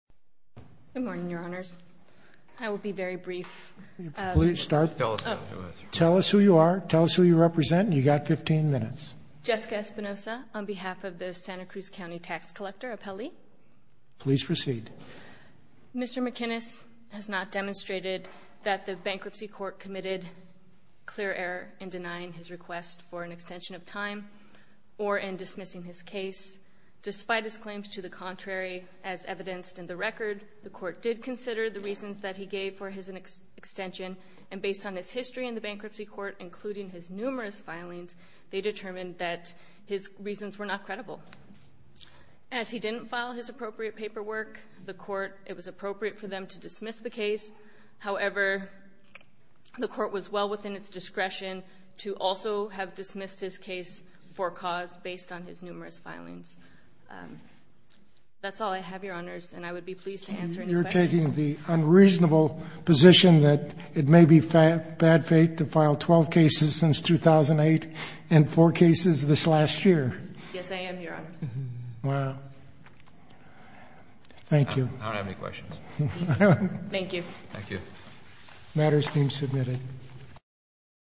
Good morning, your honors. I will be very brief. Please start. Tell us who you are. Tell us who you represent. You got 15 minutes. Jessica Espinosa on behalf of the Santa Cruz County Tax Collector Appellee. Please proceed. Mr. McInnis has not demonstrated that the bankruptcy court committed clear error in denying his request for an extension of time or in dismissing his case. Despite his record, the court did consider the reasons that he gave for his extension and based on his history in the bankruptcy court, including his numerous filings, they determined that his reasons were not credible. As he didn't file his appropriate paperwork, the court, it was appropriate for them to dismiss the case. However, the court was well within its discretion to also have dismissed his case for cause based on his numerous filings. That's all I have, your honors, and I would be pleased to answer any questions. You're taking the unreasonable position that it may be bad fate to file 12 cases since 2008 and four cases this last year. Yes, I am, your honors. Wow. Thank you. I don't have any questions. Thank you. Thank you. Matters team submitted.